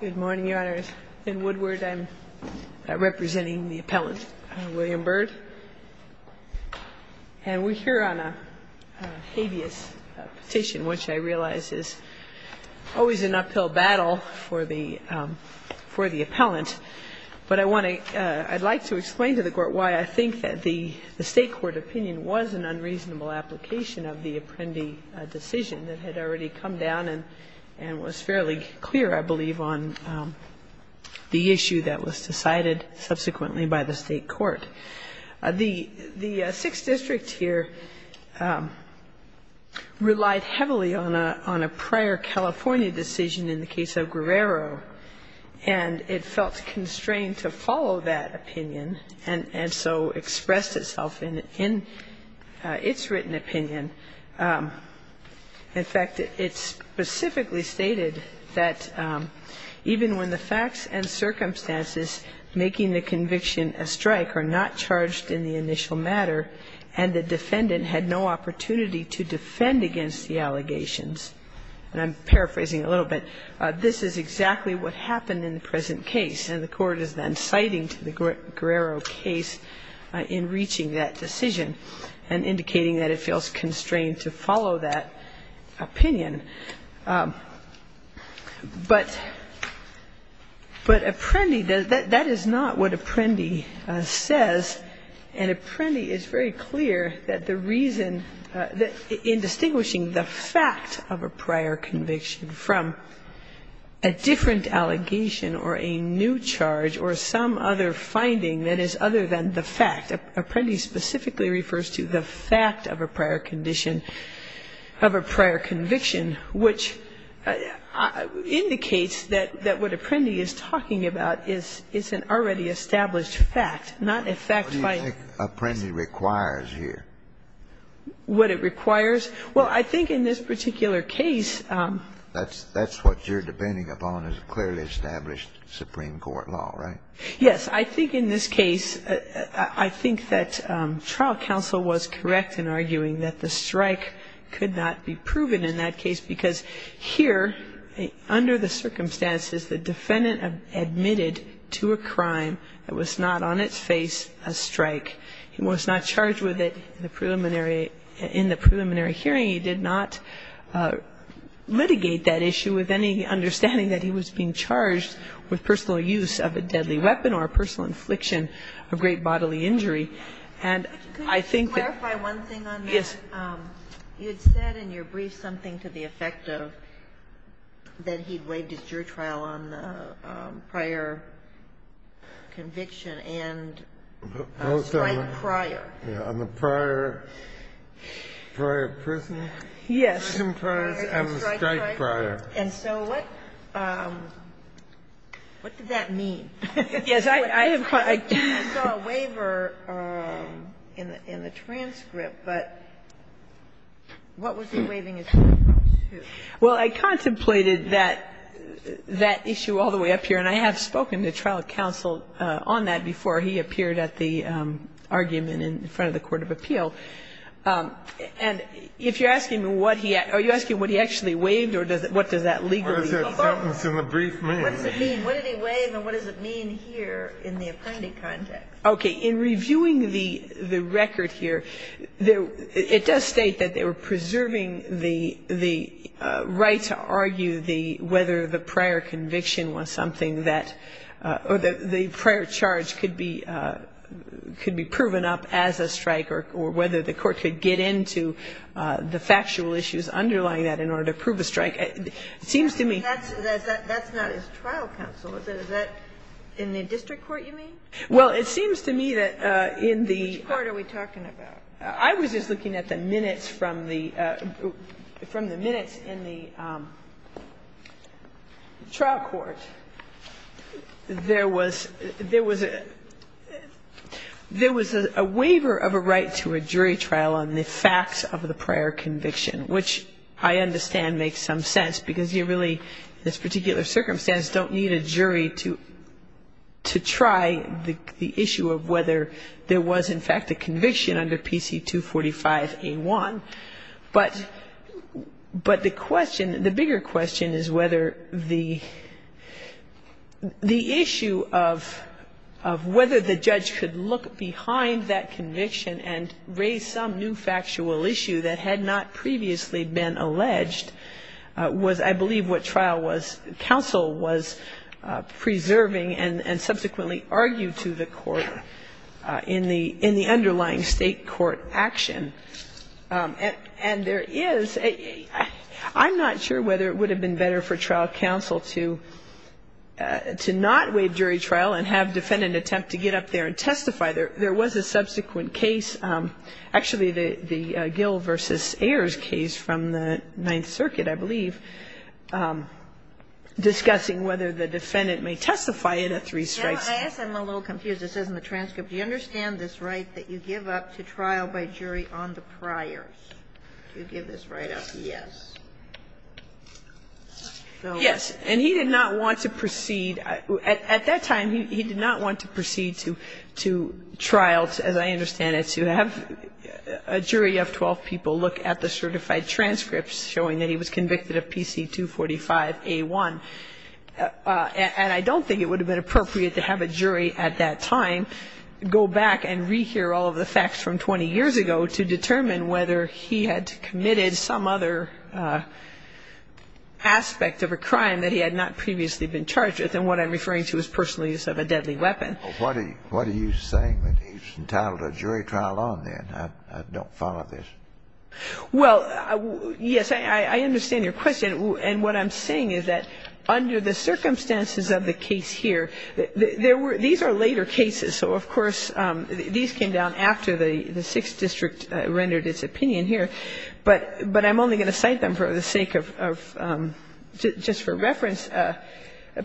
Good morning, Your Honors. In Woodward, I'm representing the appellant, William Byrd. And we're here on a habeas petition, which I realize is always an uphill battle for the appellant. But I'd like to explain to the Court why I think that the State court opinion was an unreasonable application of the issue that was decided subsequently by the State court. The Sixth District here relied heavily on a prior California decision in the case of Guerrero, and it felt constrained to follow that opinion, and so expressed itself in its written opinion. In fact, it specifically stated that even when the facts and circumstances making the conviction a strike are not charged in the initial matter, and the defendant had no opportunity to defend against the allegations, and I'm paraphrasing a little bit, this is exactly what happened in the present case. And the Court is then citing to the Guerrero case in reaching that decision and indicating that it feels constrained to follow that opinion. But Apprendi, that is not what Apprendi says, and Apprendi is very clear that the reason, in distinguishing the fact of a prior conviction from a different allegation or a new charge or some other finding that is other than the fact, Apprendi specifically refers to the fact of a prior conviction, which indicates that what Apprendi is talking about is an already established fact, not a fact by... What do you think Apprendi requires here? What it requires? Well, I think in this particular case... That's what you're depending upon is a clearly established Supreme Court law, right? Yes. I think in this case, I think that trial counsel was correct in arguing that the strike could not be proven in that case, because here, under the circumstances, the defendant admitted to a crime that was not on its face a strike. He was not charged with it in the preliminary hearing. He did not litigate that issue with any understanding that he was being charged with a great bodily weapon or a personal infliction of great bodily injury, and I think that... Could you clarify one thing on that? Yes. You had said in your brief something to the effect of that he waived his jury trial on the prior conviction and a strike prior. Yeah. On the prior prison trial and a strike prior. And so what did that mean? Yes. I saw a waiver in the transcript, but what was he waiving his jury trial to? Well, I contemplated that issue all the way up here, and I have spoken to trial counsel on that before. He appeared at the argument in front of the court of appeal. And if you're asking me what he actually waived or what does that legally mean? What does that sentence in the brief mean? What does it mean? What did he waive and what does it mean here in the appending context? Okay. In reviewing the record here, it does state that they were preserving the right to argue whether the prior conviction was something that the prior charge could be proven up as a strike or whether the court could get into the factual issues underlying that in order to prove a strike. It seems to me... That's not his trial counsel, is it? Is that in the district court, you mean? Well, it seems to me that in the... Which court are we talking about? I was just looking at the minutes from the minutes in the trial court. There was a waiver of a right to a jury trial on the facts of the prior conviction, which I understand makes some sense because you really, in this particular circumstance, don't need a jury to try the issue of whether there was, in fact, a conviction under PC 245A1. But the question, the bigger question is whether the issue of whether the judge could look behind that conviction and raise some new factual issue that had not previously been alleged was, I believe, what trial counsel was preserving and subsequently argued to the court in the underlying state court action. And there is... I'm not sure whether it would have been better for trial counsel to not waive jury trial and have defendant attempt to get up there and testify. There was a subsequent case. Actually, the Gill v. Ayers case from the Ninth Circuit, I believe, discussing whether the defendant may testify in a three strikes case. I guess I'm a little confused. It says in the transcript, Do you understand this right that you give up to trial by jury on the priors? Do you give this right up? Yes. Yes. And he did not want to proceed. At that time, he did not want to proceed to trial, as I understand it, to have a jury of 12 people look at the certified transcripts showing that he was convicted of PC 245A1. And I don't think it would have been appropriate to have a jury at that time go back and rehear all of the facts from 20 years ago to determine whether he had committed some other aspect of a crime that he had not previously been charged with. And what I'm referring to is personal use of a deadly weapon. Well, what are you saying that he was entitled to a jury trial on then? I don't follow this. Well, yes, I understand your question. And what I'm saying is that under the circumstances of the case here, there were these are later cases. And so, of course, these came down after the Sixth District rendered its opinion here. But I'm only going to cite them for the sake of just for reference.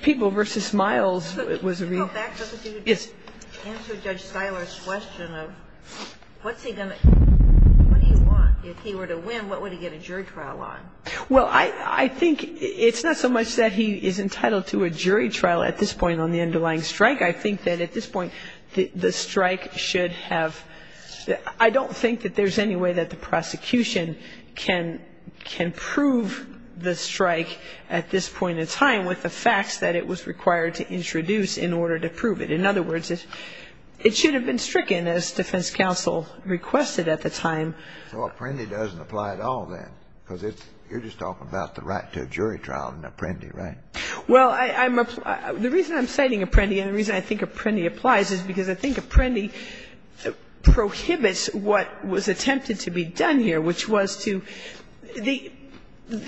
People v. Miles was a real ---- Can you go back just a few? Yes. Answer Judge Siler's question of what's he going to do? What do you want? If he were to win, what would he get a jury trial on? Well, I think it's not so much that he is entitled to a jury trial at this point on the underlying strike. I think that at this point the strike should have ---- I don't think that there's any way that the prosecution can prove the strike at this point in time with the facts that it was required to introduce in order to prove it. In other words, it should have been stricken as defense counsel requested at the time. So Apprendi doesn't apply at all then because you're just talking about the right to a jury trial in Apprendi, right? Well, I'm ---- the reason I'm citing Apprendi and the reason I think Apprendi applies is because I think Apprendi prohibits what was attempted to be done here, which was to the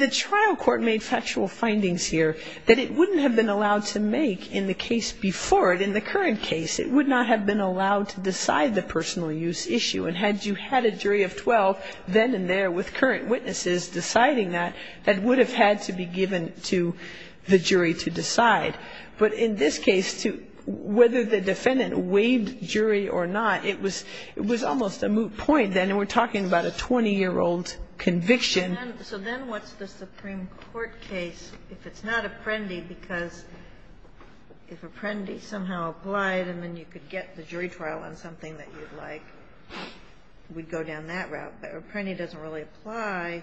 trial court made factual findings here that it wouldn't have been allowed to make in the case before it, in the current case. It would not have been allowed to decide the personal use issue. And had you had a jury of 12 then and there with current witnesses deciding that, that would have had to be given to the jury to decide. But in this case, whether the defendant waived jury or not, it was almost a moot point then, and we're talking about a 20-year-old conviction. So then what's the Supreme Court case if it's not Apprendi because if Apprendi somehow applied and then you could get the jury trial on something that you'd like, we'd go down that route. But Apprendi doesn't really apply.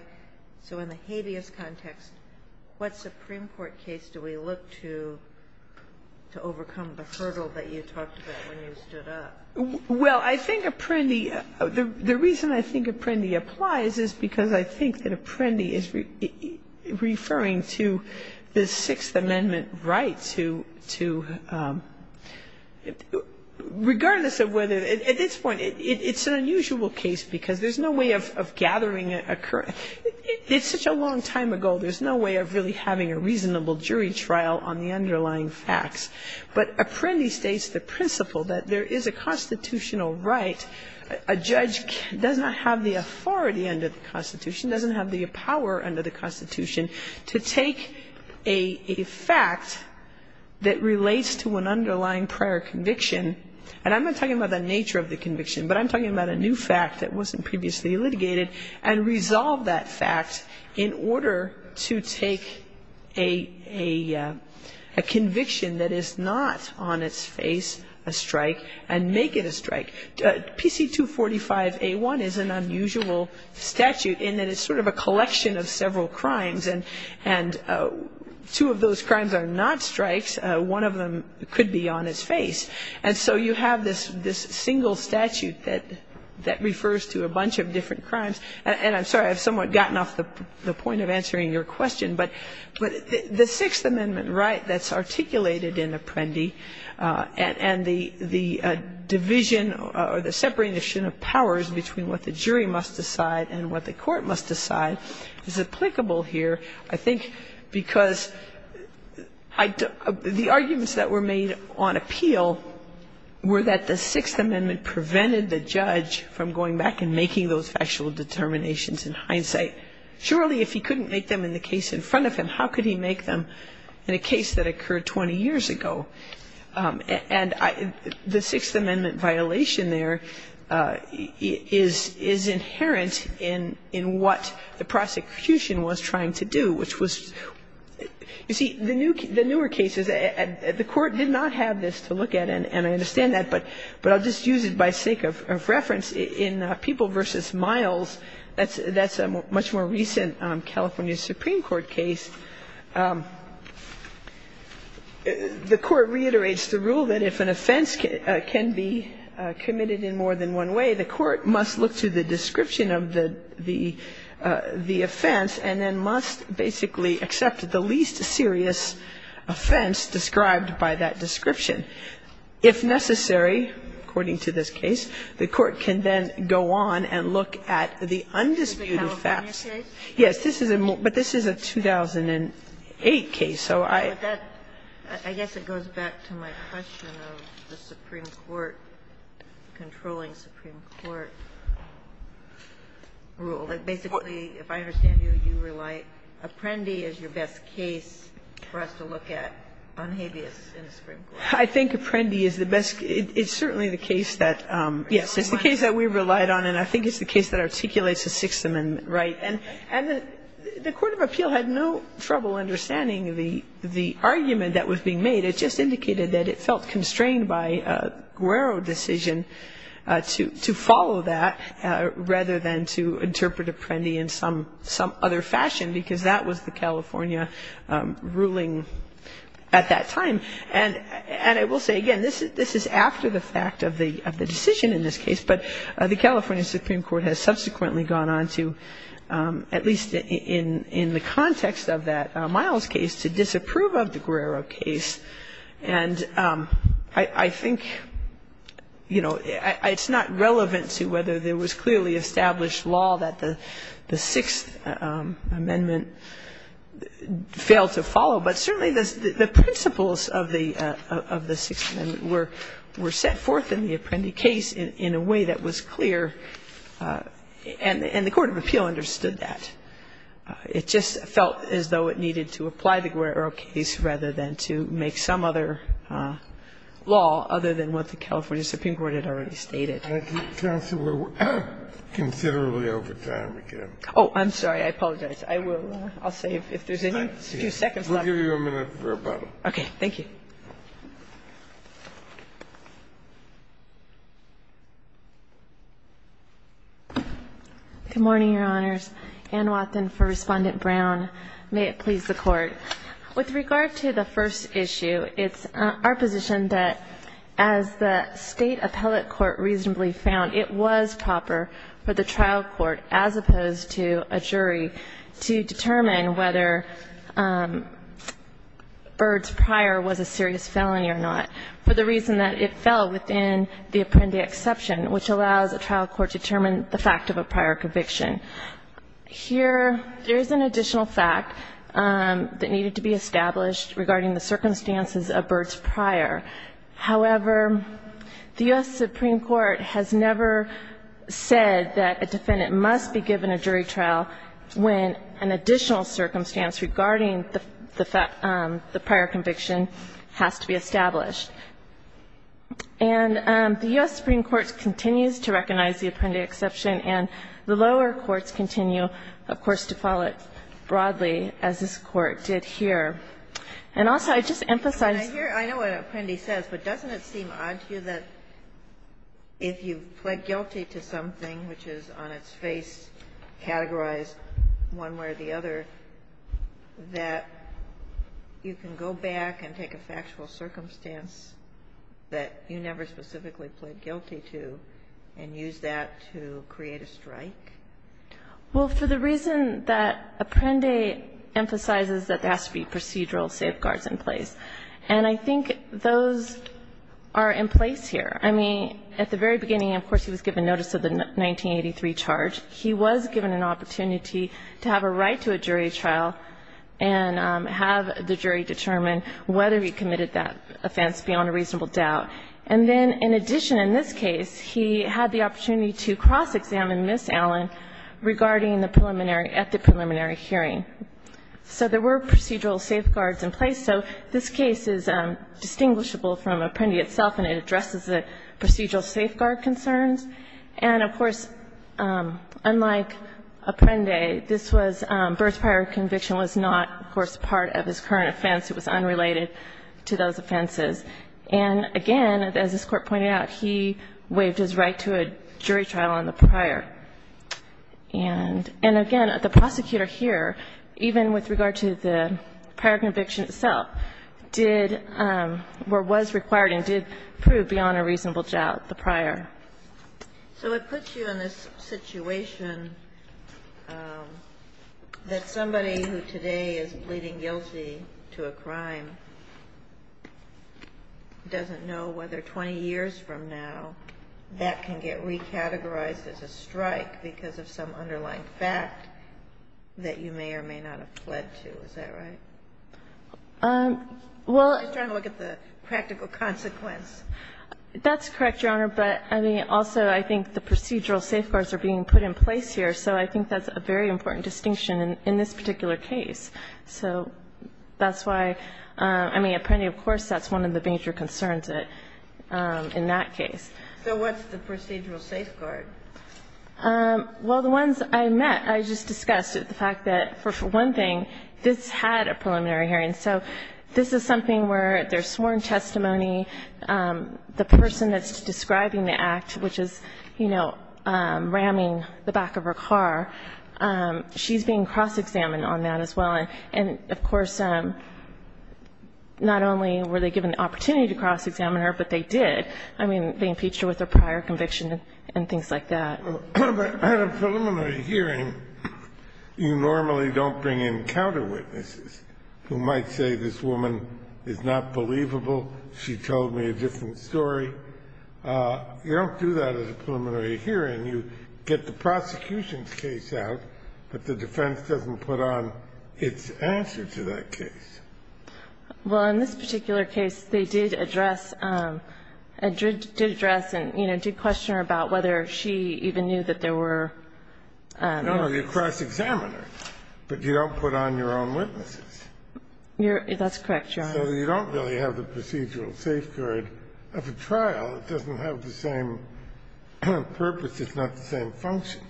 So in the habeas context, what Supreme Court case do we look to to overcome the hurdle that you talked about when you stood up? Well, I think Apprendi ---- the reason I think Apprendi applies is because I think that Apprendi is referring to the Sixth Amendment right to ---- regardless of whether ---- at this point, it's an unusual case because there's no way of gathering a current ---- it's such a long time ago, there's no way of really having a reasonable jury trial on the underlying facts. But Apprendi states the principle that there is a constitutional right. A judge does not have the authority under the Constitution, doesn't have the power under the Constitution to take a fact that relates to an underlying prior conviction and I'm not talking about the nature of the conviction, but I'm talking about a new fact that wasn't previously litigated and resolve that fact in order to take a conviction that is not on its face a strike and make it a strike. PC245A1 is an unusual statute in that it's sort of a collection of several crimes and two of those crimes are not strikes. One of them could be on its face. And so you have this single statute that refers to a bunch of different crimes and I'm sorry, I've somewhat gotten off the point of answering your question, but the Sixth Amendment right that's articulated in Apprendi and the division or the separation of powers between what the jury must decide and what the court must decide is applicable here, I think, because the arguments that were made on appeal were that the Sixth Amendment prevented the judge from going back and making those factual determinations in hindsight. Surely if he couldn't make them in the case in front of him, how could he make them in a case that occurred 20 years ago? And the Sixth Amendment violation there is inherent in what the prosecution was trying to do, which was you see, the newer cases, the Court did not have this to look at and I understand that, but I'll just use it by sake of reference. In People v. Miles, that's a much more recent California Supreme Court case, the court reiterates the rule that if an offense can be committed in more than one way, the court must look to the description of the offense and then must basically accept the least serious offense described by that description. If necessary, according to this case, the court can then go on and look at the undisputed facts. This is a 2008 case. So I think it's the case that articulates the Sixth Amendment, right? And the Court of Appeal had no trouble understanding the argument that was being made. It just indicated that it felt constrained by a Guerro decision to follow that rather than to interpret Apprendi in some other fashion because that was the California ruling at that time. And I will say again, this is after the fact of the decision in this case, but the context of that Miles case to disapprove of the Guerrero case. And I think, you know, it's not relevant to whether there was clearly established law that the Sixth Amendment failed to follow, but certainly the principles of the Sixth Amendment were set forth in the Apprendi case in a way that was clear and the Court of Appeal understood that. It just felt as though it needed to apply the Guerrero case rather than to make some other law other than what the California Supreme Court had already stated. Kennedy, we're considerably over time again. Oh, I'm sorry. I apologize. I will say if there's any few seconds left. We'll give you a minute for rebuttal. Okay. Thank you. Good morning, Your Honors. Ann Wathen for Respondent Brown. May it please the Court. With regard to the first issue, it's our position that as the State Appellate Court reasonably found, it was proper for the trial court, as opposed to a jury, to determine whether Byrd's prior was established law. For the reason that it fell within the Apprendi exception, which allows a trial court to determine the fact of a prior conviction. Here, there is an additional fact that needed to be established regarding the circumstances of Byrd's prior. However, the U.S. Supreme Court has never said that a defendant must be given a jury trial when an additional circumstance regarding the prior conviction has to be established. And the U.S. Supreme Court continues to recognize the Apprendi exception, and the lower courts continue, of course, to follow it broadly, as this Court did here. And also, I'd just emphasize the fact that this Court has never said that a defendant if you plead guilty to something, which is on its face categorized one way or the other, that you can go back and take a factual circumstance that you never specifically plead guilty to and use that to create a strike. Well, for the reason that Apprendi emphasizes that there has to be procedural safeguards in place, and I think those are in place here. I mean, at the very beginning, of course, he was given notice of the 1983 charge. He was given an opportunity to have a right to a jury trial and have the jury determine whether he committed that offense beyond a reasonable doubt. And then in addition in this case, he had the opportunity to cross-examine Ms. Allen regarding the preliminary at the preliminary hearing. So there were procedural safeguards in place. So this case is distinguishable from Apprendi itself, and it addresses the procedural safeguard concerns. And of course, unlike Apprendi, this was birth prior conviction was not, of course, part of his current offense. It was unrelated to those offenses. And again, as this Court pointed out, he waived his right to a jury trial on the prior. And again, the prosecutor here, even with regard to the prior conviction itself, did or was required and did prove beyond a reasonable doubt the prior. So it puts you in this situation that somebody who today is pleading guilty to a crime doesn't know whether 20 years from now that can get recategorized as a strike because of some underlying fact that you may or may not have pled to. Is that right? I'm just trying to look at the practical consequence. That's correct, Your Honor. But, I mean, also I think the procedural safeguards are being put in place here. So I think that's a very important distinction in this particular case. So that's why, I mean, Apprendi, of course, that's one of the major concerns in that case. So what's the procedural safeguard? Well, the ones I met, I just discussed the fact that, for one thing, this had a preliminary hearing. So this is something where there's sworn testimony. The person that's describing the act, which is, you know, ramming the back of her car, she's being cross-examined on that as well. And, of course, not only were they given the opportunity to cross-examine her, but they did. I mean, they impeached her with a prior conviction and things like that. But at a preliminary hearing, you normally don't bring in counterwitnesses who might say this woman is not believable, she told me a different story. You don't do that at a preliminary hearing. You get the prosecution's case out, but the defense doesn't put on its answer to that case. Well, in this particular case, they did address and, you know, did question her about whether she even knew that there were No, you cross-examine her, but you don't put on your own witnesses. That's correct, Your Honor. So you don't really have the procedural safeguard of a trial. It doesn't have the same purpose. It's not the same function.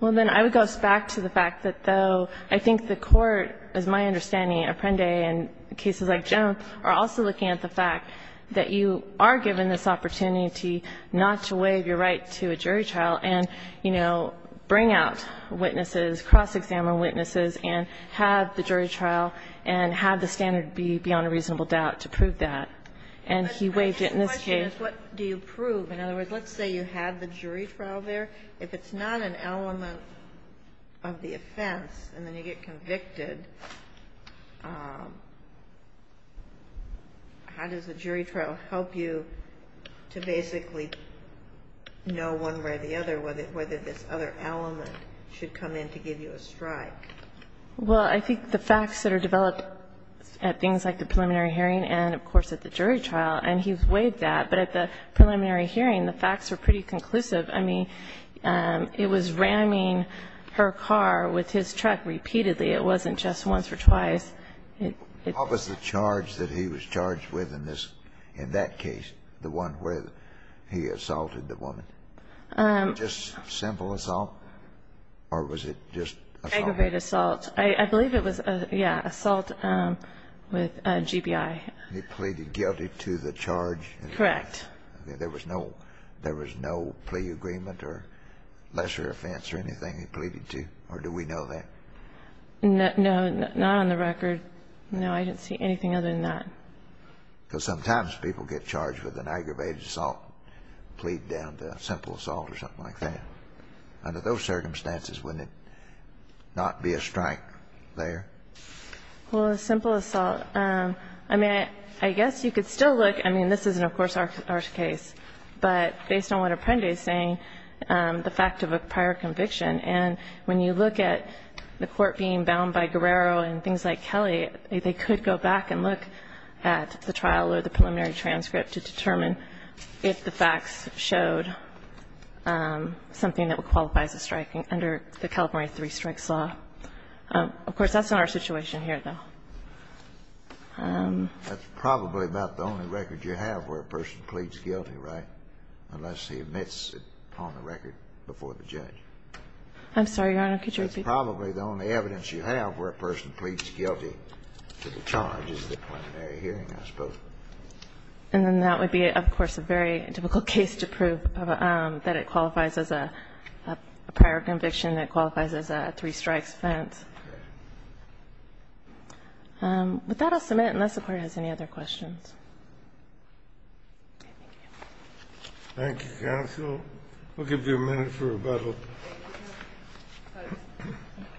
Well, then I would go back to the fact that, though, I think the Court, as my understanding, Apprendi and cases like Jones are also looking at the fact that you are given this opportunity not to waive your right to a jury trial and, you know, bring out witnesses, cross-examine witnesses, and have the jury trial, and have the standard be beyond a reasonable doubt to prove that. And he waived it in this case. But my question is what do you prove? In other words, let's say you have the jury trial there. If it's not an element of the offense and then you get convicted, how does the jury trial help you to basically know one way or the other whether this other element should come in to give you a strike? Well, I think the facts that are developed at things like the preliminary hearing and, of course, at the jury trial, and he's waived that, but at the preliminary hearing, the facts are pretty conclusive. I mean, it was ramming her car with his truck repeatedly. It wasn't just once or twice. How was the charge that he was charged with in this, in that case, the one where he assaulted the woman? Just simple assault? Or was it just assault? Aggravated assault. I believe it was, yeah, assault with GBI. He pleaded guilty to the charge? Correct. There was no plea agreement or lesser offense or anything he pleaded to? Or do we know that? No, not on the record. No, I didn't see anything other than that. Because sometimes people get charged with an aggravated assault, plead down to simple assault or something like that. So under those circumstances, wouldn't it not be a strike there? Well, a simple assault. I mean, I guess you could still look. I mean, this isn't, of course, our case. But based on what Apprendi is saying, the fact of a prior conviction, and when you look at the court being bound by Guerrero and things like Kelly, they could go back and look at the trial or the preliminary transcript to determine if the facts showed something that would qualify as a strike under the California Three Strikes Law. Of course, that's not our situation here, though. That's probably about the only record you have where a person pleads guilty, right, unless he admits it on the record before the judge? I'm sorry, Your Honor. Could you repeat? And then that would be, of course, a very difficult case to prove, that it qualifies as a prior conviction, that it qualifies as a three-strikes offense. With that, I'll submit, unless the Court has any other questions. Thank you, counsel. We'll give you a minute for rebuttal.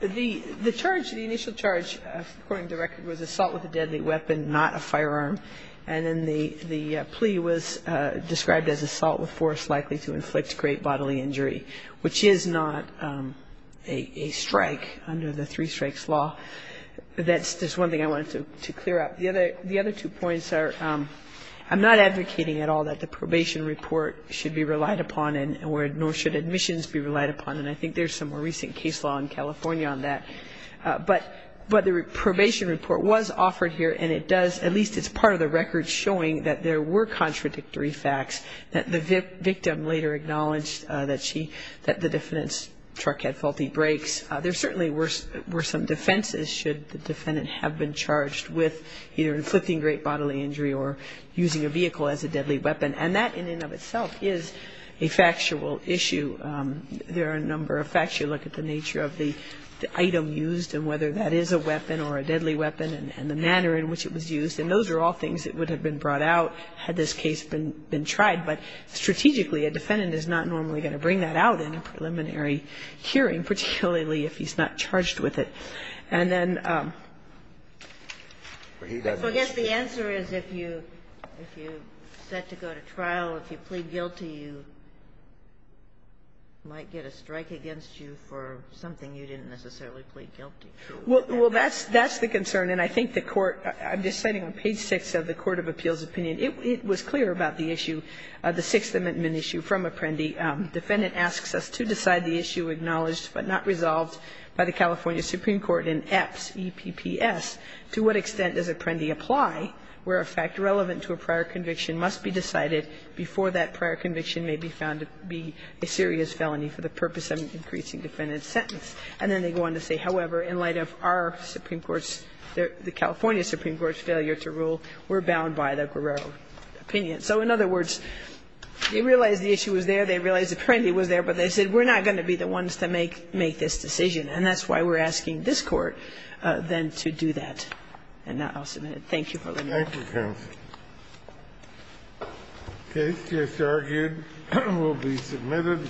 The charge, the initial charge, according to the record, was assault with a deadly weapon, not a firearm. And then the plea was described as assault with force likely to inflict great bodily injury, which is not a strike under the Three Strikes Law. That's just one thing I wanted to clear up. The other two points are I'm not advocating at all that the probation report should be relied upon, nor should admissions be relied upon. And I think there's some more recent case law in California on that. But the probation report was offered here, and it does, at least it's part of the record, showing that there were contradictory facts, that the victim later acknowledged that the defendant's truck had faulty brakes. There certainly were some defenses should the defendant have been charged with either inflicting great bodily injury or using a vehicle as a deadly weapon. And that, in and of itself, is a factual issue. There are a number of facts. You look at the nature of the item used and whether that is a weapon or a deadly weapon and the manner in which it was used. And those are all things that would have been brought out had this case been tried. But strategically, a defendant is not normally going to bring that out in a preliminary hearing, particularly if he's not charged with it. And then he doesn't. The answer is if you set to go to trial, if you plead guilty, you might get a strike against you for something you didn't necessarily plead guilty to. Well, that's the concern. And I think the Court – I'm just citing on page 6 of the court of appeals opinion. It was clear about the issue, the Sixth Amendment issue from Apprendi. Defendant asks us to decide the issue acknowledged but not resolved by the California Supreme Court in EPS, E-P-P-S. To what extent does Apprendi apply where a fact relevant to a prior conviction must be decided before that prior conviction may be found to be a serious felony for the purpose of an increasing defendant's sentence? And then they go on to say, however, in light of our Supreme Court's, the California Supreme Court's failure to rule, we're bound by the Guerrero opinion. So in other words, they realized the issue was there, they realized Apprendi was there, but they said we're not going to be the ones to make this decision. And that's why we're asking this Court, then, to do that. And I'll submit it. Thank you for letting me talk. Thank you, counsel. The case just argued will be submitted.